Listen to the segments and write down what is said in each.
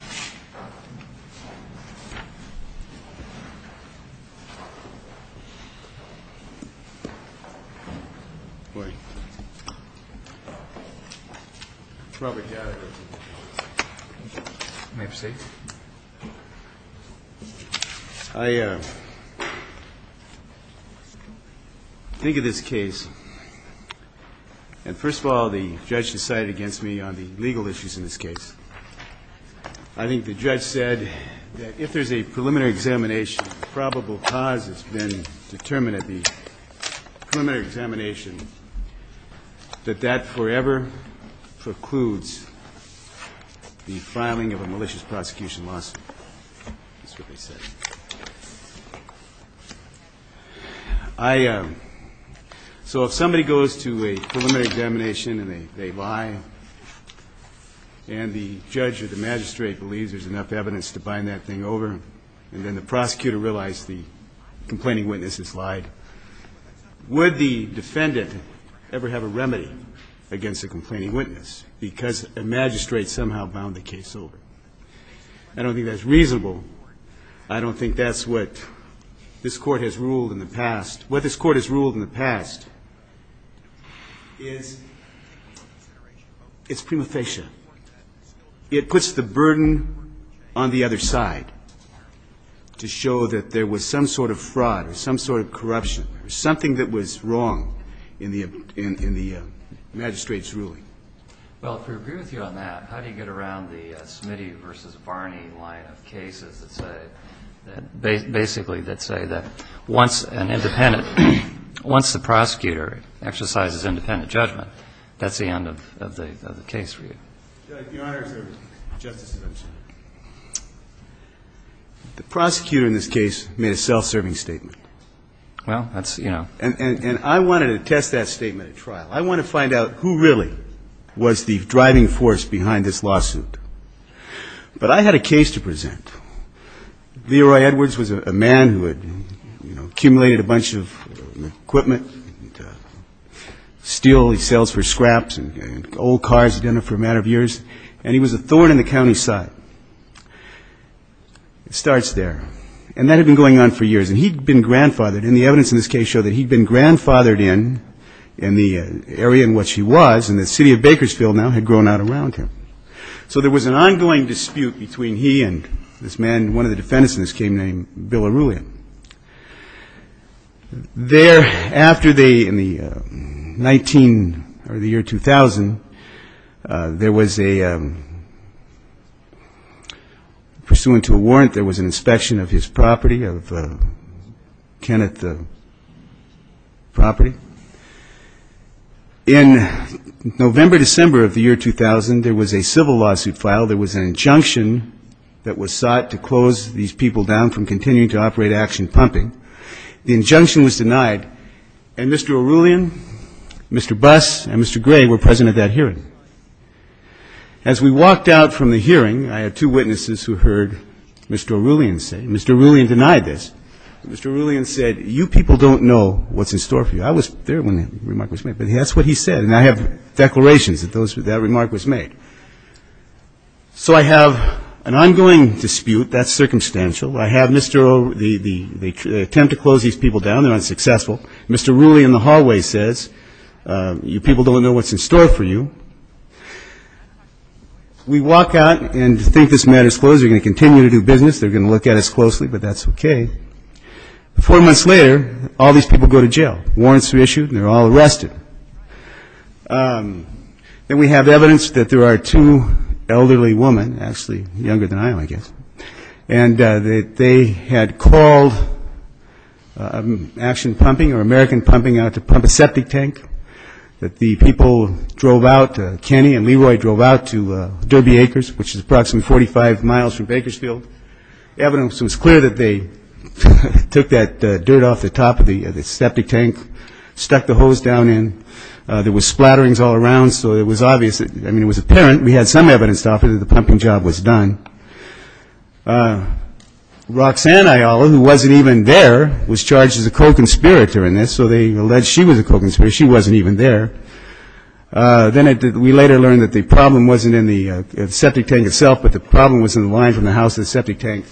I think of this case, and first of all, the judge decided against me on the legal issues in this case. I think the judge said that if there's a preliminary examination, probable cause has been determined at the preliminary examination, that that forever precludes the filing of a malicious prosecution lawsuit. That's what they said. So if somebody goes to a preliminary examination and they lie, and the judge or the magistrate believes there's enough evidence to bind that thing over, and then the prosecutor realized the complaining witness has lied, would the defendant ever have a remedy against the complaining witness because a magistrate somehow bound the case over? I don't think that's reasonable. I don't think that's what this Court has ruled in the past. What this Court has ruled in the past is prima facie. It puts the burden on the other side to show that there was some sort of fraud or some sort of corruption or something that was wrong in the magistrate's ruling. Well, if we agree with you on that, how do you get around the Smitty v. Barney line of cases that say, basically, that say that once an independent, once the prosecutor exercises independent judgment, that's the end of the case for you? Your Honor, Justice Ginsburg, the prosecutor in this case made a self-serving statement. And I wanted to test that statement at trial. I wanted to find out who really was the driving force behind this lawsuit. But I had a case to present. Leroy Edwards was a man who had, you know, accumulated a bunch of equipment, steel he sells for scraps, and old cars he'd been in for a matter of years, and he was a thorn in the county's side. It starts there. And that had been going on for years. And he'd been grandfathered. And the evidence in this case showed that he'd been grandfathered in, in the area in which he was, and the city of Bakersfield now had grown out around him. So there was an ongoing dispute between he and this man, one of the defendants in this case named Bill Arulia. There, after the, in the 19, or the year 2000, there was a, pursuant to a warrant, there was an inspection of his property, of Kenneth's property. In November, December of the year 2000, there was a civil lawsuit filed. There was an injunction that was sought to close these people down from continuing to operate Action Pumping. The injunction was denied. And Mr. Arulian, Mr. Buss, and Mr. Gray were present at that hearing. As we walked out from the hearing, I had two witnesses who heard Mr. Arulian say, Mr. Arulian denied this. Mr. Arulian said, you people don't know what's in store for you. I was there when the remark was made. But that's what he said. And I have declarations that those, that remark was made. So I have an ongoing dispute. That's circumstantial. I have Mr. Arulian, they attempt to close these people down. They're unsuccessful. Mr. Arulian in the hallway says, you people don't know what's in store for you. We walk out and think this matter's closed. They're going to continue to do business. They're going to look at us closely, but that's okay. Four months later, all these people go to jail. Warrants are issued and they're all arrested. Then we have evidence that there are two elderly women, actually younger than I am, I guess, and that they had called Action Pumping or American Pumping out to pump a septic tank that the people drove out, Kenny and Leroy drove out to Derby Acres, which is approximately 45 miles from Bakersfield. Evidence was clear that they took that dirt off the top of the septic tank, stuck the hose down in. There was splatterings all around. So it was obvious, I mean, it was apparent, we had some evidence to offer that the pumping job was done. Roxanne Ayala, who wasn't even there, was charged as a co-conspirator in this. So they alleged she was a co-conspirator. She wasn't even there. Then we later learned that the problem wasn't in the septic tank itself, but the problem was in the line from the house to the septic tank.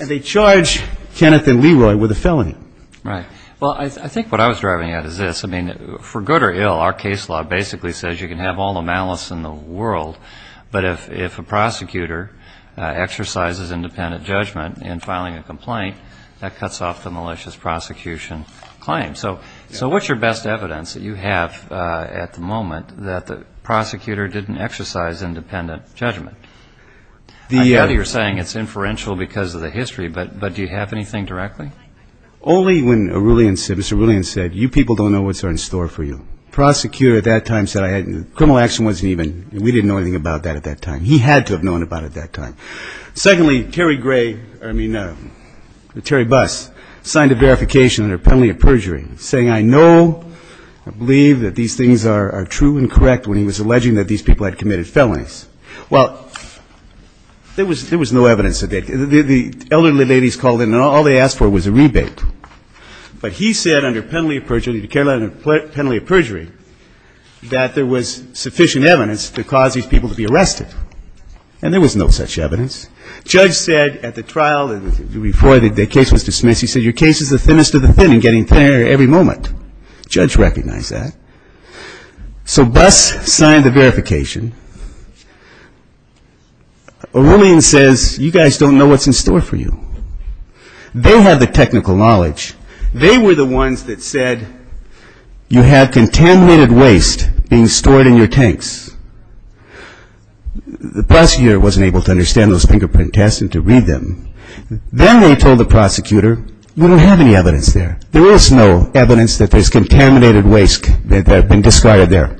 And they charged Kenneth and Leroy with a felony. Right. Well, I think what I was driving at is this. I mean, for good or ill, our case law basically says you can have all the malice in the world, but if a prosecutor exercises independent judgment in filing a complaint, that cuts off the malicious prosecution claim. So what's your best evidence that you have at the moment that the prosecutor didn't exercise independent judgment? I know that you're saying it's inferential because of the history, but do you have anything directly? Only when Mr. Arulian said, you people don't know what's in store for you. Prosecutor at that time said criminal action wasn't even, we didn't know anything about that at that time. He had to have known about it at that time. Secondly, Terry Gray, I mean, Terry Buss, signed a verification under penalty of perjury, saying I know, I believe that these things are true and correct when he was alleging that these people had committed felonies. Well, there was no evidence of that. The elderly ladies called in and all they asked for was a rebate. But he said under penalty of perjury, he declared under penalty of perjury, that there was sufficient evidence to cause these people to be arrested. And there was no such evidence. Judge said at the trial before the case was dismissed, he said your case is the thinnest of the thin in getting thinner every moment. Judge recognized that. So Buss signed the verification. Arulian says you guys don't know what's in store for you. They have the technical knowledge. They were the ones that said you have contaminated waste being stored in your tanks. The prosecutor wasn't able to understand those fingerprint tests and to read them. Then they told the prosecutor, you don't have any evidence there. There is no evidence that there's contaminated waste that had been described there.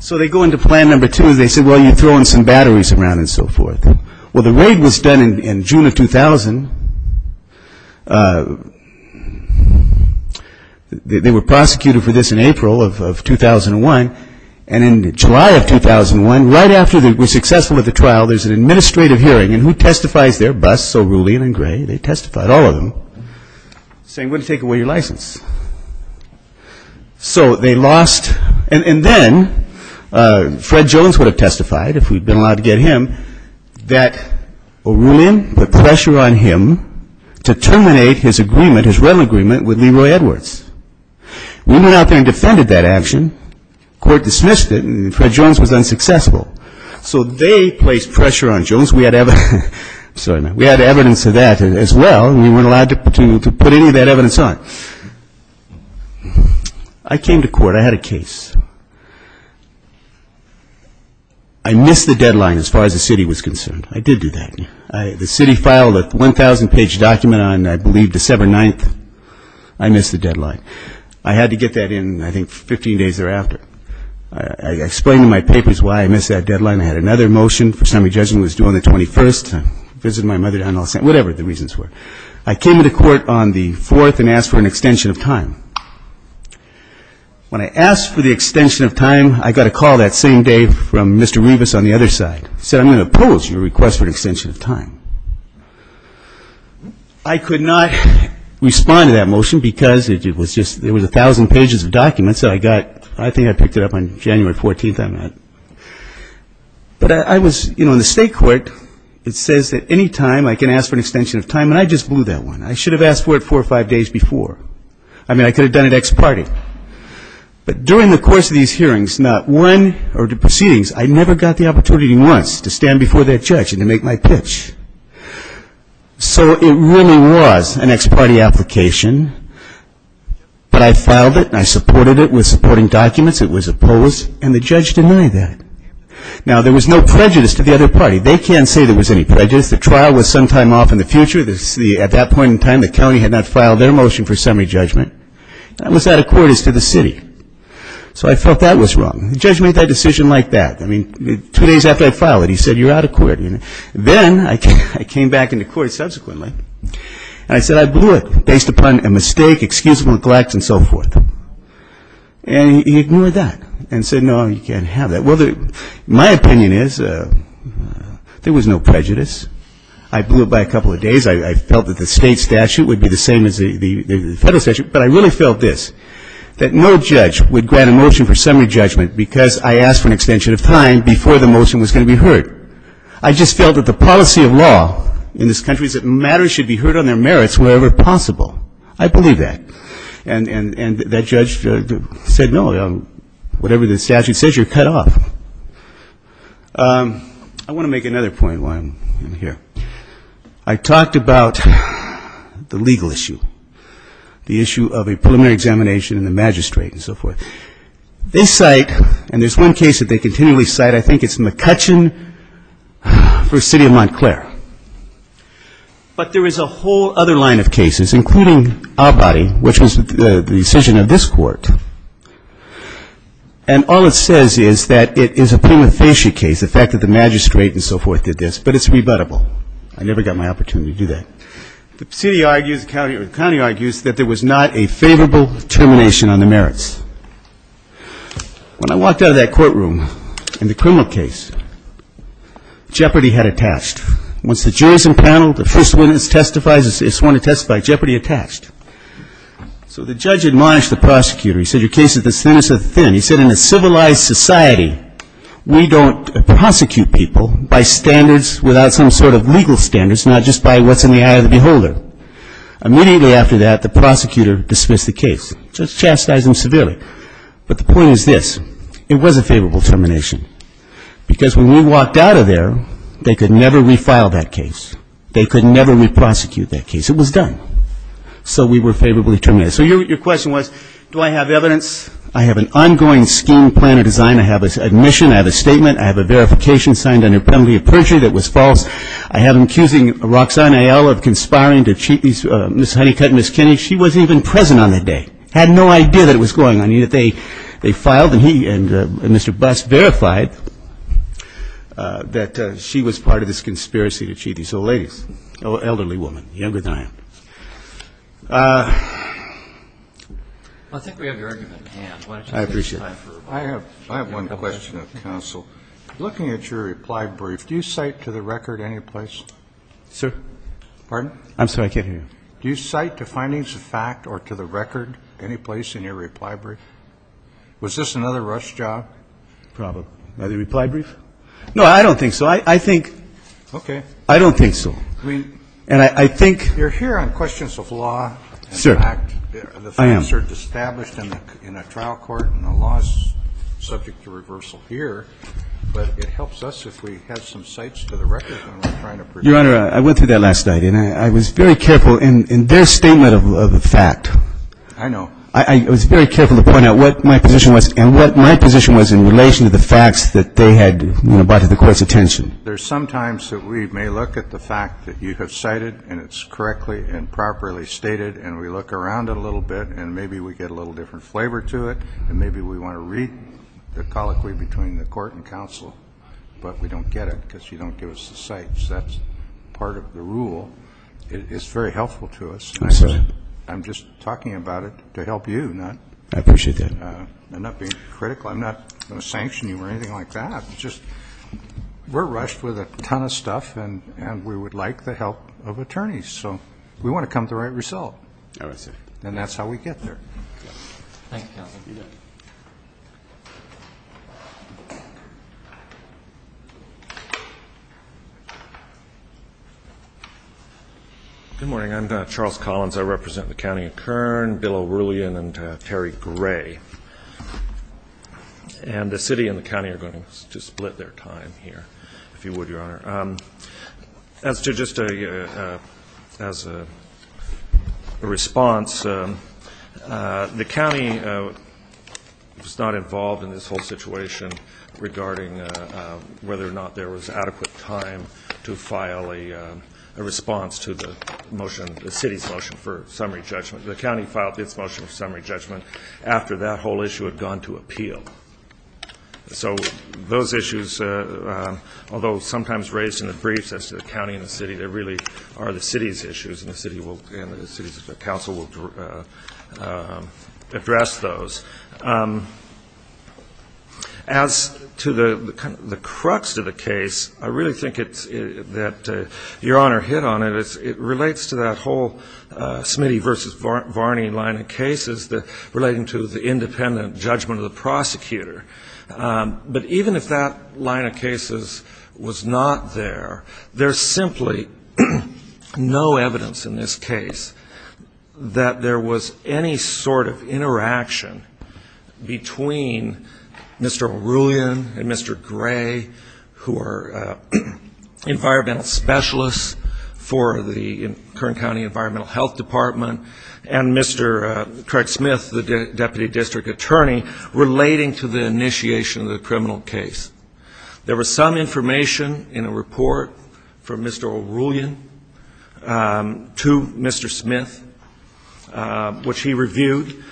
So they go into plan number two and they said, well, you're throwing some batteries around and so forth. Well, the raid was done in June of 2000. They were prosecuted for this in April of 2001. And in July of 2001, right after they were successful at the trial, there's an administrative hearing. And who testifies there? Buss, Arulian and Gray. They testified, all of them, saying we're going to take away your license. So they lost. And then Fred Jones would have testified, if we'd been allowed to get him, that Arulian put pressure on him to terminate his agreement, his rental agreement, with Leroy Edwards. We went out there and defended that action. Court dismissed it. And Fred Jones was unsuccessful. So they placed pressure on Jones. We had evidence of that as well. We weren't allowed to put any of that evidence on. I came to court. I had a case. I missed the deadline as far as the city was concerned. I did do that. The city filed a 1,000-page document on, I believe, December 9th. I missed the deadline. I had to get that in, I think, 15 days thereafter. I explained in my papers why I missed that deadline. I had another motion. First time of judgment was due on the 21st. I visited my mother down in Los Angeles, whatever the reasons were. I came to court on the 4th and asked for an extension of time. When I asked for the extension of time, I got a call that same day from Mr. Rebus on the other side. He said, I'm going to oppose your request for an extension of time. I could not respond to that motion because it was just, it was 1,000 pages of documents that I got. I think I picked it up on January 14th. But I was, you know, in the state court, it says that any time I can ask for an extension of time. And I just blew that one. I should have asked for it four or five days before. I mean, I could have done it ex parte. But during the course of these hearings, not one or the proceedings, I never got the opportunity once to stand before that judge and to make my pitch. So it really was an ex parte application. But I filed it and I supported it with supporting documents. It was opposed and the judge denied that. Now, there was no prejudice to the other party. They can't say there was any prejudice. The trial was some time off in the future. At that point in time, the county had not filed their motion for summary judgment. That was out of court as to the city. So I felt that was wrong. The judge made that decision like that. I mean, two days after I filed it, he said, you're out of court. Then I came back into court subsequently and I said I blew it based upon a mistake, excusable neglect and so forth. And he ignored that and said, no, you can't have that. Well, my opinion is there was no prejudice. I blew it by a couple of days. I felt that the state statute would be the same as the federal statute. But I really felt this, that no judge would grant a motion for summary judgment because I asked for an extension of time before the motion was going to be heard. I just felt that the policy of law in this country is that matters should be heard on their merits wherever possible. I believe that. And that judge said, no, whatever the statute says, you're cut off. I want to make another point while I'm here. I talked about the legal issue, the issue of a preliminary examination and the magistrate and so forth. They cite, and there's one case that they continually cite, I think it's McCutcheon v. City of Montclair. But there is a whole other line of cases, including Abadie, which was the decision of this court. And all it says is that it is a prima facie case, the fact that the magistrate and so forth did this, but it's rebuttable. I never got my opportunity to do that. The city argues, the county argues that there was not a favorable termination on the merits. When I walked out of that courtroom in the criminal case, Jeopardy had attached. Once the jury's impaneled, the first witness testifies, it's sworn to testify, Jeopardy attached. So the judge admonished the prosecutor. He said, your case is as thin as a thin. He said, in a civilized society, we don't prosecute people by standards without some sort of legal standards, not just by what's in the eye of the beholder. Immediately after that, the prosecutor dismissed the case. Just chastised him severely. But the point is this. It was a favorable termination. Because when we walked out of there, they could never refile that case. They could never reprosecute that case. It was done. So we were favorably terminated. So your question was, do I have evidence? I have an ongoing scheme, plan, or design. I have an admission. I have a statement. I have a verification signed under penalty of perjury that was false. I have an accusing Roxanne Eyal of conspiring to cheat Ms. Honeycutt and Ms. Kinney. She wasn't even present on that day. Had no idea that it was going on. I mean, if they filed and he and Mr. Buss verified that she was part of this conspiracy to cheat these old ladies, elderly women, younger than I am. I think we have your argument at hand. I appreciate it. I have one question, counsel. Looking at your reply brief, do you cite to the record any place? Sir? Pardon? I'm sorry, I can't hear you. Do you cite to findings of fact or to the record any place in your reply brief? Was this another rush job? Probably. The reply brief? No, I don't think so. I think. Okay. I don't think so. I mean. And I think. You're here on questions of law. Sir. I am. The facts are established in a trial court and the law is subject to reversal here. But it helps us if we have some cites to the record when we're trying to. Your Honor, I went through that last night and I was very careful in their statement of the fact. I know. I was very careful to point out what my position was and what my position was in relation to the facts that they had brought to the court's attention. There's sometimes that we may look at the fact that you have cited and it's correctly and properly stated and we look around a little bit and maybe we get a little different flavor to it and maybe we want to read the colloquy between the court and counsel, but we don't get it because you don't give us the cites. That's part of the rule. It's very helpful to us. I'm sorry. I'm just talking about it to help you. I appreciate that. I'm not being critical. I'm not going to sanction you or anything like that. We're rushed with a ton of stuff and we would like the help of attorneys, so we want to come to the right result. I see. And that's how we get there. Thank you, counsel. Good morning. I'm Charles Collins. I represent the County of Kern, Bill O'Roulean and Terry Gray. And the city and the county are going to split their time here, if you would, Your Honor. As to just a response, the county was not involved in this whole situation regarding whether or not there was adequate time to file a response to the motion, the city's motion for summary judgment. The county filed its motion for summary judgment after that whole issue had gone to appeal. So those issues, although sometimes raised in the briefs as to the county and the city, they really are the city's issues and the city's counsel will address those. As to the crux of the case, I really think that Your Honor hit on it. It relates to that whole Smitty v. Varney line of cases relating to the independent judgment of the prosecutor. But even if that line of cases was not there, there's simply no evidence in this case that there was any sort of interaction between Mr. O'Roulean and Mr. Gray, who are environmental specialists for the Kern County Environmental Health Department, and Mr. Craig Smith, the deputy district attorney, relating to the initiation of the criminal case. There was some information in a report from Mr. O'Roulean to Mr. Smith, which he reviewed.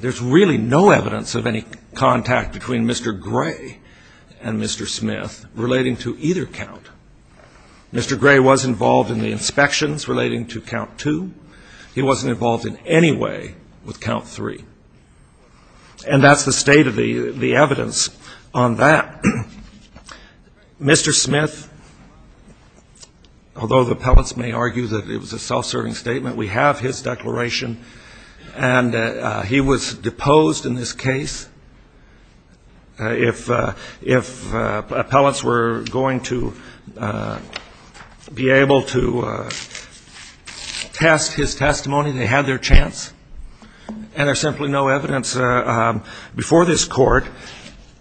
There's really no evidence of any contact between Mr. Gray and Mr. Smith relating to either count. Mr. Gray was involved in the inspections relating to count two. He wasn't involved in any way with count three. And that's the state of the evidence on that. Mr. Smith, although the appellants may argue that it was a self-serving statement, we have his declaration. And he was deposed in this case. If appellants were going to be able to test his testimony, they had their chance. And there's simply no evidence before this Court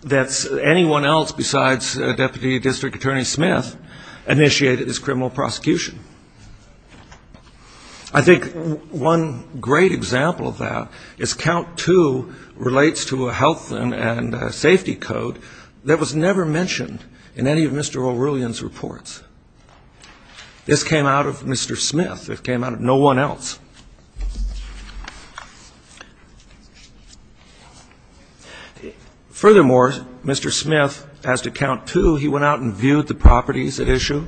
that anyone else besides Deputy District Attorney Smith initiated this criminal prosecution. I think one great example of that is count two relates to a health and safety code that was never mentioned in any of Mr. O'Roulean's reports. This came out of Mr. Smith. It came out of no one else. Furthermore, Mr. Smith, as to count two, he went out and viewed the properties at issue,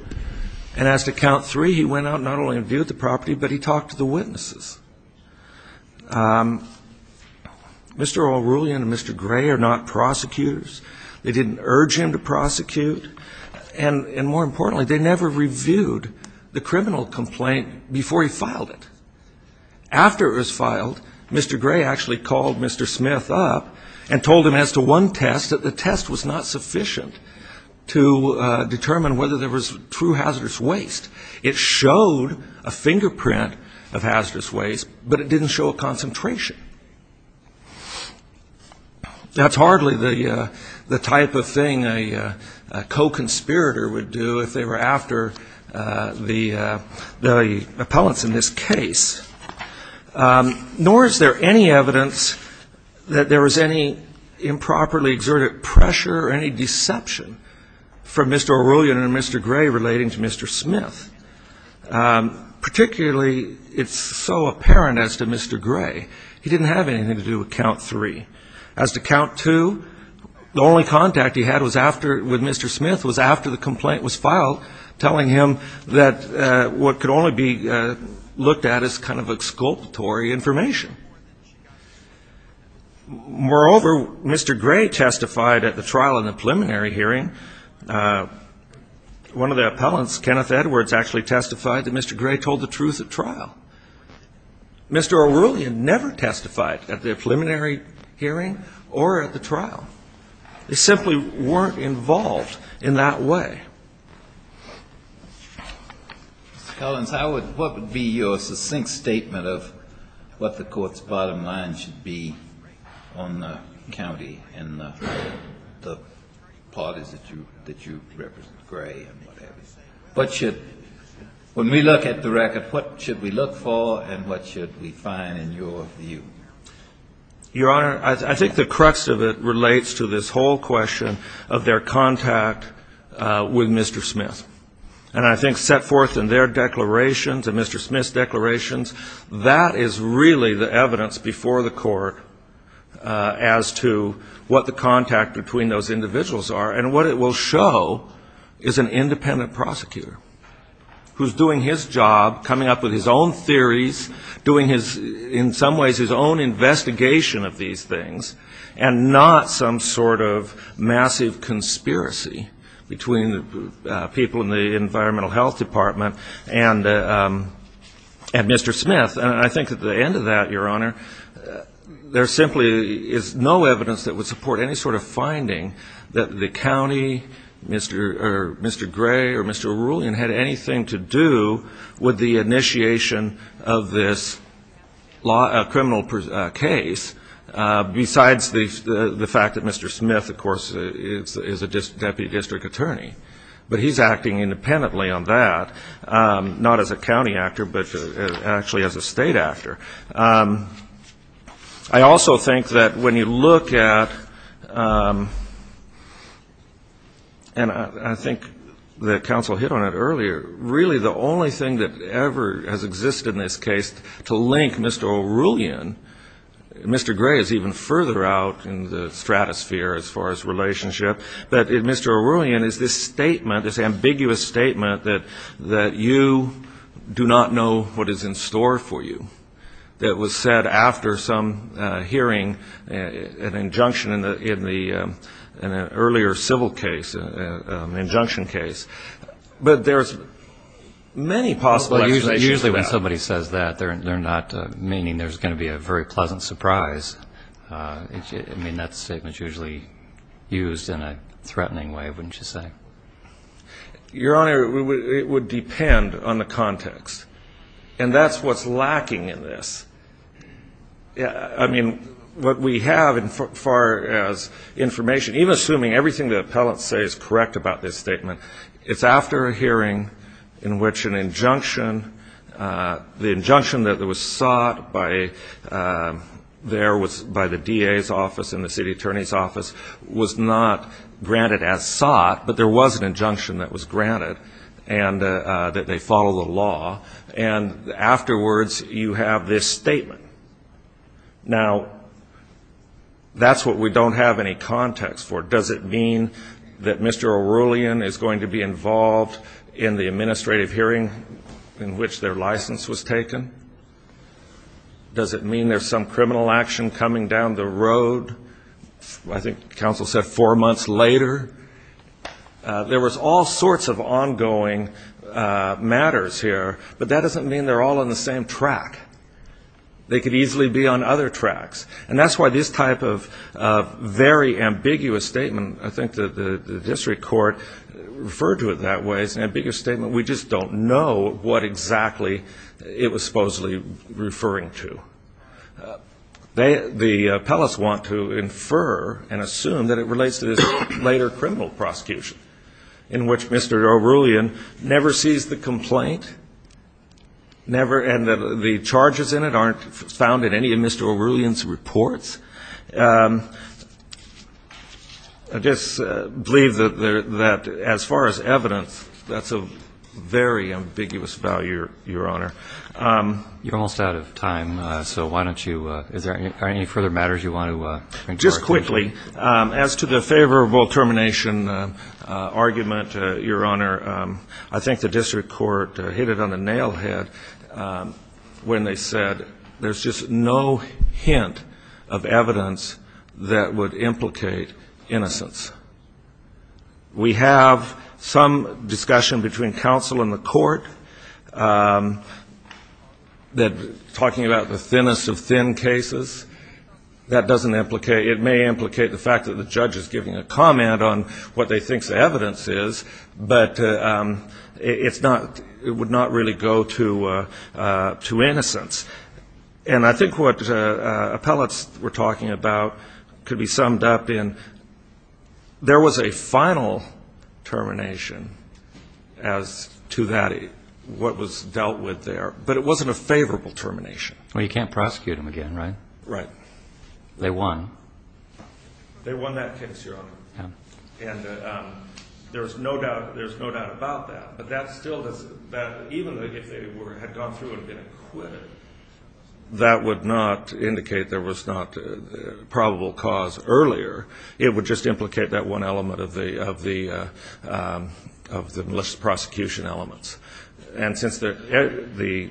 and as to count three, he went out not only and viewed the property, but he talked to the witnesses. Mr. O'Roulean and Mr. Gray are not prosecutors. They didn't urge him to prosecute. And more importantly, they never reviewed the criminal complaint before he filed it. After it was filed, Mr. Gray actually called Mr. Smith up and told him as to one test, that the test was not sufficient to determine whether there was true hazardous waste. It showed a fingerprint of hazardous waste, but it didn't show a concentration. That's hardly the type of thing a co-conspirator would do if they were after the appellants in this case. Nor is there any evidence that there was any improperly exerted pressure or any deception from Mr. O'Roulean and Mr. Gray relating to Mr. Smith, particularly it's so apparent as to Mr. Gray. He didn't have anything to do with count three. As to count two, the only contact he had with Mr. Smith was after the complaint was filed, telling him that what could only be looked at as kind of exculpatory information. Moreover, Mr. Gray testified at the trial in the preliminary hearing. One of the appellants, Kenneth Edwards, actually testified that Mr. Gray told the truth at trial. Mr. O'Roulean never testified at the preliminary hearing or at the trial. They simply weren't involved in that way. Mr. Collins, what would be your succinct statement of what the Court's bottom line should be on the county and the parties that you represent, Gray and what have you? When we look at the record, what should we look for and what should we find in your view? Your Honor, I think the crux of it relates to this whole question of their contact with Mr. Smith. And I think set forth in their declarations and Mr. Smith's declarations, that is really the evidence before the Court as to what the contact between those individuals are. And what it will show is an independent prosecutor who's doing his job, coming up with his own theories, doing in some ways his own investigation of these things, and not some sort of massive conspiracy between the people in the Environmental Health Department and Mr. Smith. And I think at the end of that, Your Honor, there simply is no evidence that would support any sort of finding that the county, Mr. Gray or Mr. Arulian, had anything to do with the initiation of this criminal case, besides the fact that Mr. Smith, of course, is a Deputy District Attorney. But he's acting independently on that, not as a county actor, but actually as a state actor. I also think that when you look at, and I think the counsel hit on it earlier, really the only thing that ever has existed in this case to link Mr. Arulian, Mr. Gray is even further out in the stratosphere as far as relationship, but Mr. Arulian is this statement, this ambiguous statement that you do not know what is in store for you, that was said after some hearing, an injunction in an earlier civil case, an injunction case. But there's many possible explanations for that. Usually when somebody says that, they're not meaning there's going to be a very pleasant surprise. I mean, that statement is usually used in a threatening way, wouldn't you say? Your Honor, it would depend on the context. And that's what's lacking in this. I mean, what we have as far as information, even assuming everything the appellant says is correct about this statement, it's after a hearing in which an injunction, the injunction that was sought there by the DA's office and the city attorney's office was not granted as sought, but there was an injunction that was granted and that they follow the law. And afterwards you have this statement. Now, that's what we don't have any context for. Does it mean that Mr. Arulian is going to be involved in the administrative hearing in which their license was taken? Does it mean there's some criminal action coming down the road? I think counsel said four months later. There was all sorts of ongoing matters here, but that doesn't mean they're all on the same track. They could easily be on other tracks. And that's why this type of very ambiguous statement, I think the district court referred to it that way, it's an ambiguous statement. We just don't know what exactly it was supposedly referring to. The appellants want to infer and assume that it relates to this later criminal prosecution in which Mr. Arulian never sees the complaint, never, and that the charges in it aren't found in any of Mr. Arulian's reports. I just believe that as far as evidence, that's a very ambiguous value, Your Honor. You're almost out of time, so why don't you ñ are there any further matters you want to – Just quickly, as to the favorable termination argument, Your Honor, I think the district court hit it on the nail head when they said there's just no hint of evidence that would implicate innocence. We have some discussion between counsel and the court that talking about the thinnest of thin cases, that doesn't implicate – it may implicate the fact that the judge is giving a comment on what they think the evidence is, but it would not really go to innocence. And I think what appellants were talking about could be summed up in there was a final termination as to what was dealt with there, but it wasn't a favorable termination. Well, you can't prosecute them again, right? Right. They won. They won that case, Your Honor. And there's no doubt about that. But that still doesn't – even if they had gone through and been acquitted, that would not indicate there was not probable cause earlier. It would just implicate that one element of the malicious prosecution elements. And since every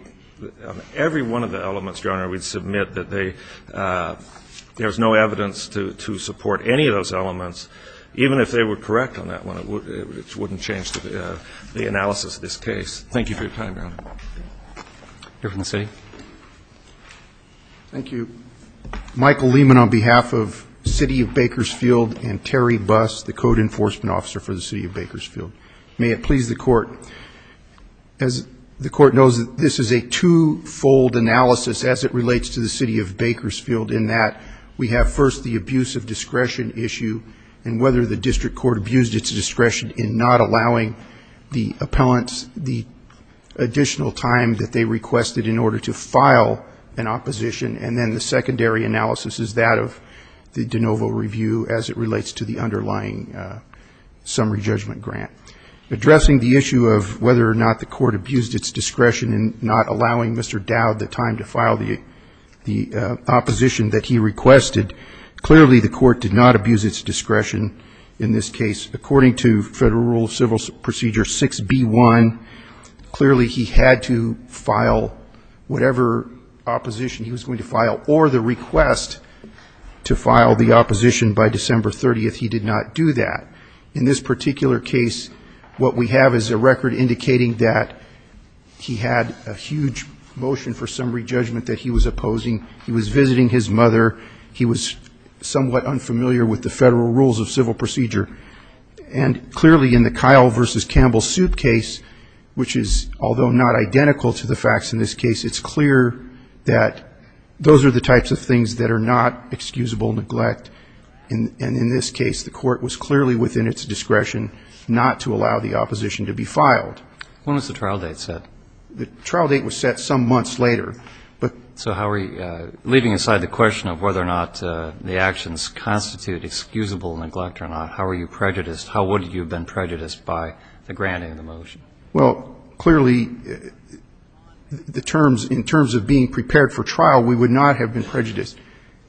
one of the elements, Your Honor, we'd submit that there's no evidence to support any of those elements, even if they were correct on that one, it wouldn't change the analysis of this case. Thank you for your time, Your Honor. Your Honor. Thank you. Michael Lehman on behalf of the City of Bakersfield and Terry Buss, the Code Enforcement Officer for the City of Bakersfield. May it please the Court. As the Court knows, this is a twofold analysis as it relates to the City of Bakersfield, in that we have first the abuse of discretion issue and whether the district court abused its discretion in not allowing the appellants the additional time that they requested in order to file an opposition, and then the secondary analysis is that of the de novo review as it relates to the underlying summary judgment grant. Addressing the issue of whether or not the court abused its discretion in not allowing Mr. Dowd the time to file the opposition that he requested, clearly the court did not abuse its discretion in this case. According to Federal Rule of Civil Procedure 6B1, clearly he had to file whatever opposition he was going to file or the request to file the opposition by December 30th. He did not do that. In this particular case, what we have is a record indicating that he had a huge motion for summary judgment that he was opposing. He was visiting his mother. He was somewhat unfamiliar with the Federal Rules of Civil Procedure. And clearly in the Kyle v. Campbell suit case, which is although not identical to the facts in this case, it's clear that those are the types of things that are not excusable neglect. And in this case, the court was clearly within its discretion not to allow the opposition to be filed. When was the trial date set? The trial date was set some months later. So how are we leaving aside the question of whether or not the actions constitute excusable neglect or not? How are you prejudiced? How would you have been prejudiced by the granting of the motion? Well, clearly the terms, in terms of being prepared for trial, we would not have been prejudiced.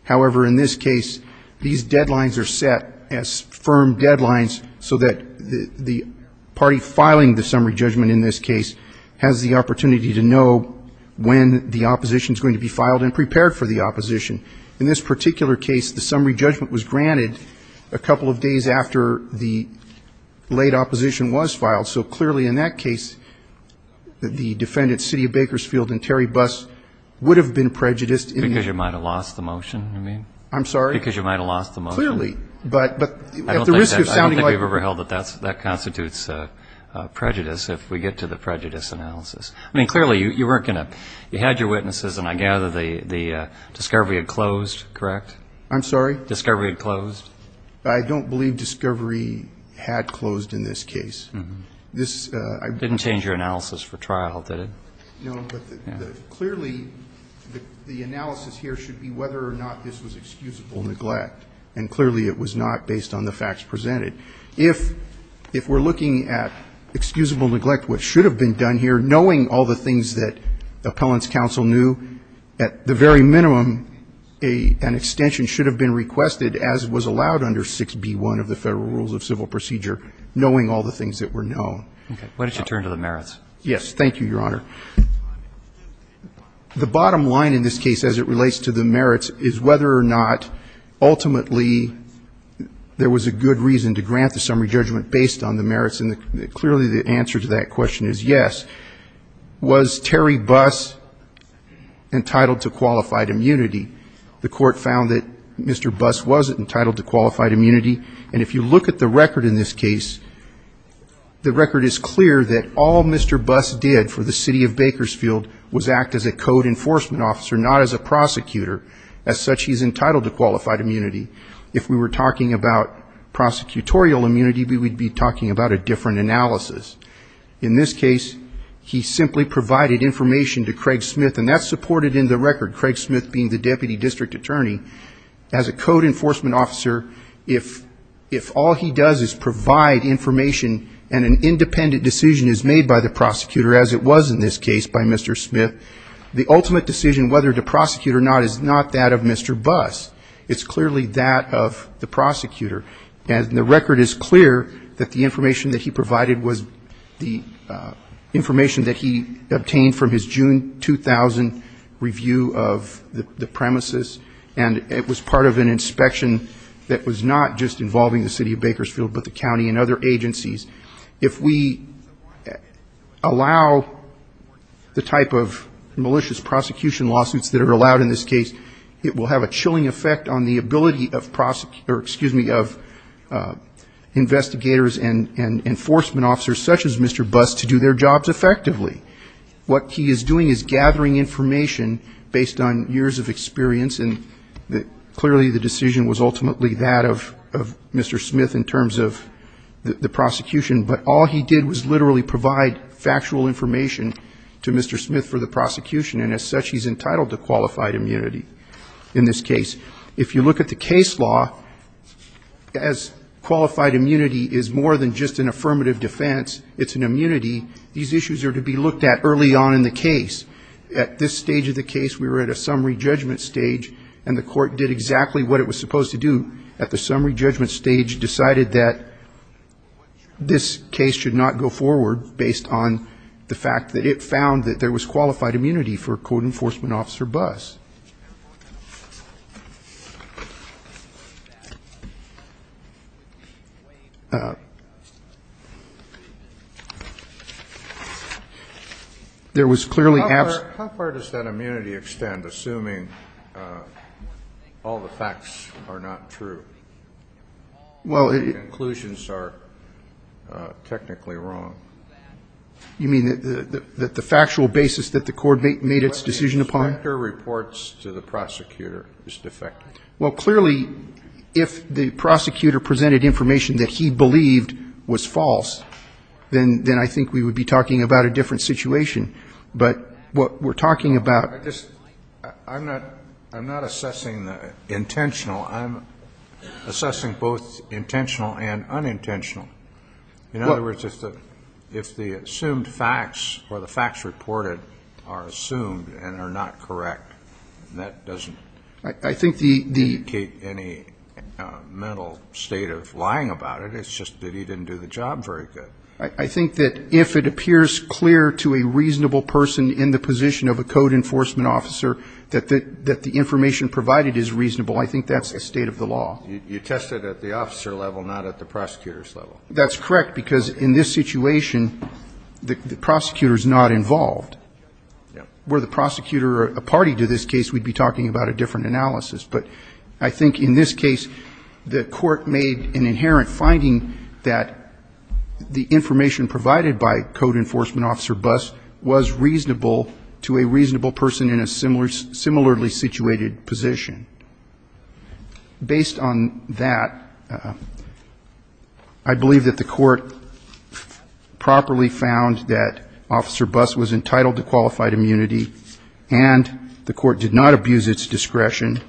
However, in this case, these deadlines are set as firm deadlines so that the party filing the summary judgment in this case has the opportunity to know when the opposition is going to be filed and prepared for the opposition. In this particular case, the summary judgment was granted a couple of days after the late opposition was filed. So clearly in that case, the defendants, City of Bakersfield and Terry Buss, would have been prejudiced. Because you might have lost the motion, you mean? I'm sorry? Because you might have lost the motion. Clearly. I don't think we've ever held that that constitutes prejudice, if we get to the prejudice analysis. I mean, clearly you weren't going to – you had your witnesses, and I gather the discovery had closed, correct? I'm sorry? Discovery had closed? I don't believe discovery had closed in this case. Didn't change your analysis for trial, did it? No, but clearly the analysis here should be whether or not this was excusable neglect. And clearly it was not based on the facts presented. If we're looking at excusable neglect, what should have been done here, knowing all the things that appellant's counsel knew, at the very minimum an extension should have been requested, as was allowed under 6B1 of the Federal Rules of Civil Procedure, knowing all the things that were known. Why don't you turn to the merits? Yes, thank you, Your Honor. The bottom line in this case, as it relates to the merits, is whether or not ultimately there was a good reason to grant the summary judgment based on the merits. And clearly the answer to that question is yes. Was Terry Buss entitled to qualified immunity? The Court found that Mr. Buss wasn't entitled to qualified immunity. And if you look at the record in this case, the record is clear that all Mr. Buss did for the city of Bakersfield was act as a code enforcement officer, not as a prosecutor. As such, he's entitled to qualified immunity. If we were talking about prosecutorial immunity, we would be talking about a different analysis. In this case, he simply provided information to Craig Smith, and that's supported in the record, Craig Smith being the deputy district attorney. And as a code enforcement officer, if all he does is provide information and an independent decision is made by the prosecutor, as it was in this case by Mr. Smith, the ultimate decision whether to prosecute or not is not that of Mr. Buss. It's clearly that of the prosecutor. And the record is clear that the information that he provided was the information that he obtained from his June 2000 review of the premises, and it was part of an inspection that was not just involving the city of Bakersfield but the county and other agencies. If we allow the type of malicious prosecution lawsuits that are allowed in this case, it will have a chilling effect on the ability of investigators and enforcement officers such as Mr. Buss to do their jobs effectively. What he is doing is gathering information based on years of experience, and clearly the decision was ultimately that of Mr. Smith in terms of the prosecution. But all he did was literally provide factual information to Mr. Smith for the prosecution, and as such he's entitled to qualified immunity in this case. If you look at the case law, as qualified immunity is more than just an affirmative defense, it's an immunity, these issues are to be looked at early on in the case. At this stage of the case we were at a summary judgment stage, and the court did exactly what it was supposed to do at the summary judgment stage, decided that this case should not go forward based on the fact that it found that there was clearly absent. How far does that immunity extend, assuming all the facts are not true, and the conclusions are technically wrong? You mean that the factual basis that the court made its decision upon? What the inspector reports to the prosecutor is defective. Well, clearly if the prosecutor presented information that he believed was false, then I think we would be talking about a different situation. But what we're talking about ---- I'm not assessing intentional. I'm assessing both intentional and unintentional. In other words, if the assumed facts or the facts reported are assumed and are not correct, that doesn't ---- I think the ---- indicate any mental state of lying about it. It's just that he didn't do the job very good. I think that if it appears clear to a reasonable person in the position of a code enforcement officer that the information provided is reasonable, I think that's the state of the law. You tested at the officer level, not at the prosecutor's level. That's correct, because in this situation the prosecutor is not involved. Were the prosecutor a party to this case, we'd be talking about a different analysis. But I think in this case the court made an inherent finding that the information provided by code enforcement officer Buss was reasonable to a reasonable person in a similarly situated position. Based on that, I believe that the court properly found that Officer Buss was entitled to qualified immunity, and the court did not abuse its discretion,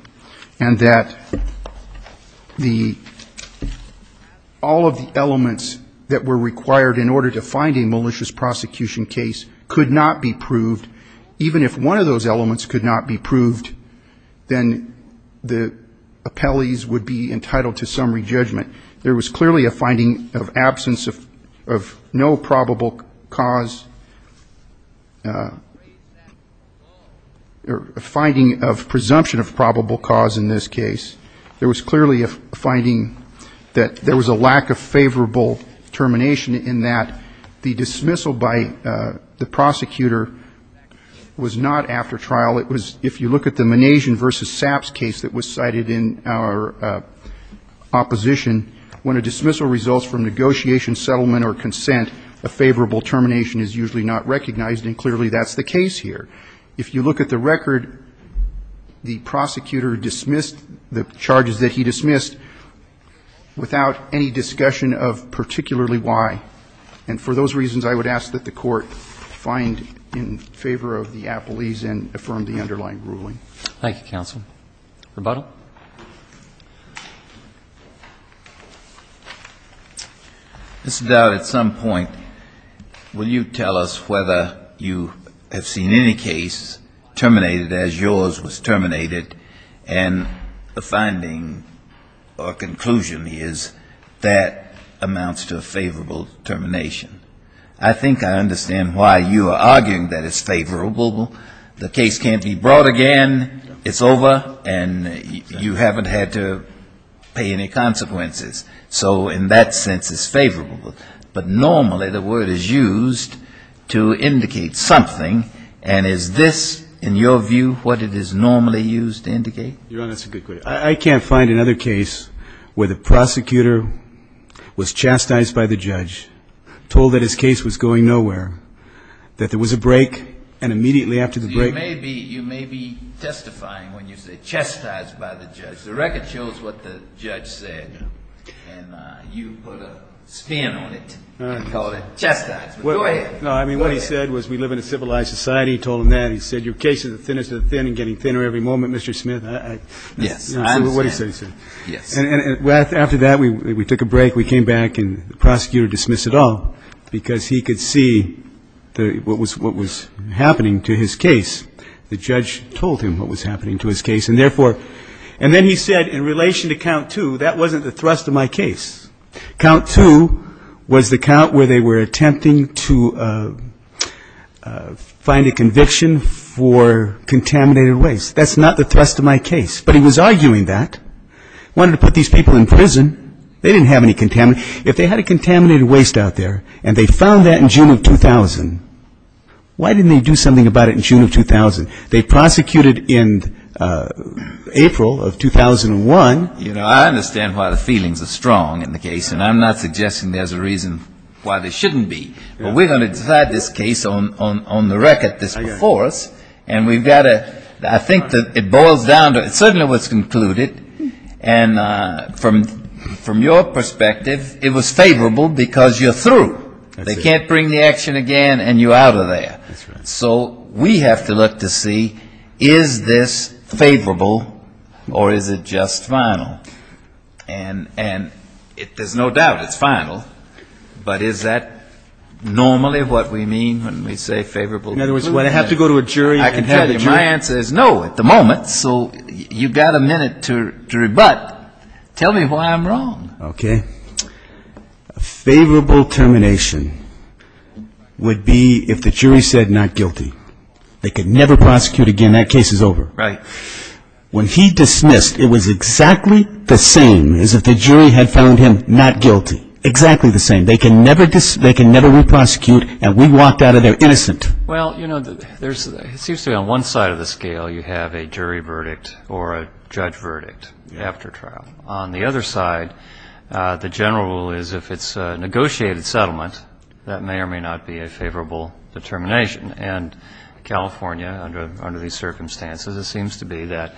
and that all of the elements that were required in order to find a malicious prosecution case could not be proved. Even if one of those elements could not be proved, then the appellees would be entitled to summary judgment. There was clearly a finding of absence of no probable cause, a finding of presumption of probable cause in this case. There was clearly a finding that there was a lack of favorable determination in that the dismissal by the prosecutor was not after trial. It was, if you look at the Manajian v. Saps case that was cited in our opposition, when a dismissal results from negotiation, settlement, or consent, a favorable termination is usually not recognized, and clearly that's the case here. If you look at the record, the prosecutor dismissed the charges that he dismissed without any discussion of particularly why. And for those reasons, I would ask that the court find in favor of the appellees and affirm the underlying ruling. Thank you, counsel. Rebuttal. Mr. Dowd, at some point, will you tell us whether you have seen any case terminated as yours was terminated, and the finding or conclusion is that amounts to a favorable termination. I think I understand why you are arguing that it's favorable. The case can't be brought again, it's over, and you haven't had to pay any consequences. So in that sense, it's favorable. But normally the word is used to indicate something, and is this, in your view, what it is normally used to indicate? Your Honor, that's a good question. I can't find another case where the prosecutor was chastised by the judge, told that his case was going nowhere, that there was a break, and immediately after the break... You may be testifying when you say chastised by the judge. The record shows what the judge said, and you put a spin on it and called it chastised. Go ahead. No, I mean, what he said was we live in a civilized society, he told him that, he said your case is the thinnest of the thin and getting thinner every moment, Mr. Smith. Yes, I understand. And after that, we took a break, we came back, and the prosecutor dismissed it all, because he could see what was happening to his case. The judge told him what was happening to his case, and therefore, and then he said in relation to count two, that wasn't the thrust of my case. Count two was the count where they were attempting to find a conviction for contaminated waste. That's not the thrust of my case. But he was arguing that, wanted to put these people in prison, they didn't have any contamination. If they had a contaminated waste out there, and they found that in June of 2000, why didn't they do something about it in June of 2000? They prosecuted in April of 2001. You know, I understand why the feelings are strong in the case, and I'm not suggesting there's a reason why there shouldn't be. But we're going to decide this case on the record, this before us, and we've got to, I think that it boils down to, it certainly was concluded, and from your perspective, it was favorable, because you're through. They can't bring the action again, and you're out of there. So we have to look to see, is this favorable, or is it just final? And there's no doubt it's final, but is that normally what we mean when we say favorable? In other words, when I have to go to a jury, I can tell you my answer is no at the moment, so you've got a minute to rebut. Tell me why I'm wrong. Okay. A favorable termination would be if the jury said not guilty. They could never prosecute again. That case is over. When he dismissed, it was exactly the same as if the jury had found him not guilty, exactly the same. They can never re-prosecute, and we walked out of there innocent. Well, you know, it seems to me on one side of the scale you have a jury verdict or a judge verdict after trial. On the other side, the general rule is if it's a negotiated settlement, that may or may not be a favorable determination. And California, under these circumstances, it seems to be that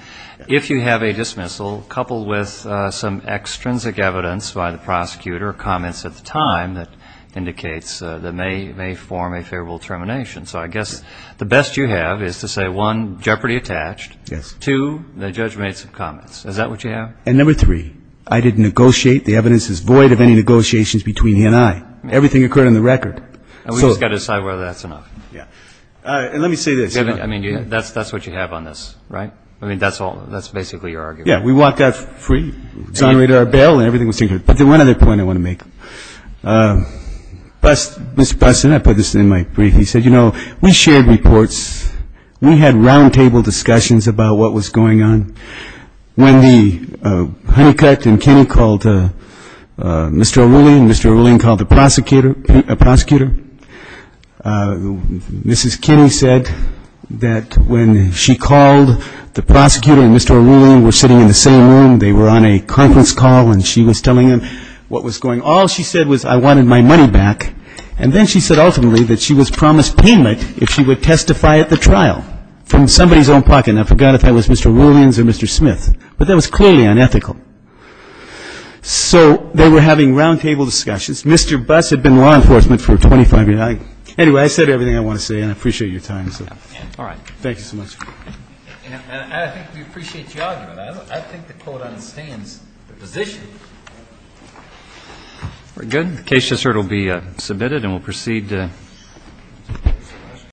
if you have a dismissal coupled with some extrinsic evidence by the time that indicates that may form a favorable termination. So I guess the best you have is to say, one, jeopardy attached, two, the judge made some comments. Is that what you have? And number three, I didn't negotiate. The evidence is void of any negotiations between he and I. Everything occurred on the record. And we just got to decide whether that's enough. And let me say this. I mean, that's what you have on this, right? I mean, that's basically your argument. Yeah, we walked out free, exonerated our bail, and everything was taken care of. But there's one other point I want to make. Mr. Buston, I put this in my brief. He said, you know, we shared reports. We had roundtable discussions about what was going on. When the Honeycutt and Kinney called Mr. Arulian, Mr. Arulian called the prosecutor, Mrs. Kinney said that when she called, the prosecutor and Mr. Arulian were sitting in the same room. They were on a conference call, and she was telling him what was going on. All she said was, I wanted my money back. And then she said ultimately that she was promised payment if she would testify at the trial from somebody's own pocket. And I forgot if that was Mr. Arulian or Mr. Smith. But that was clearly unethical. So they were having roundtable discussions. Mr. Bust had been law enforcement for 25 years. Anyway, I said everything I want to say, and I appreciate your time. Thank you so much.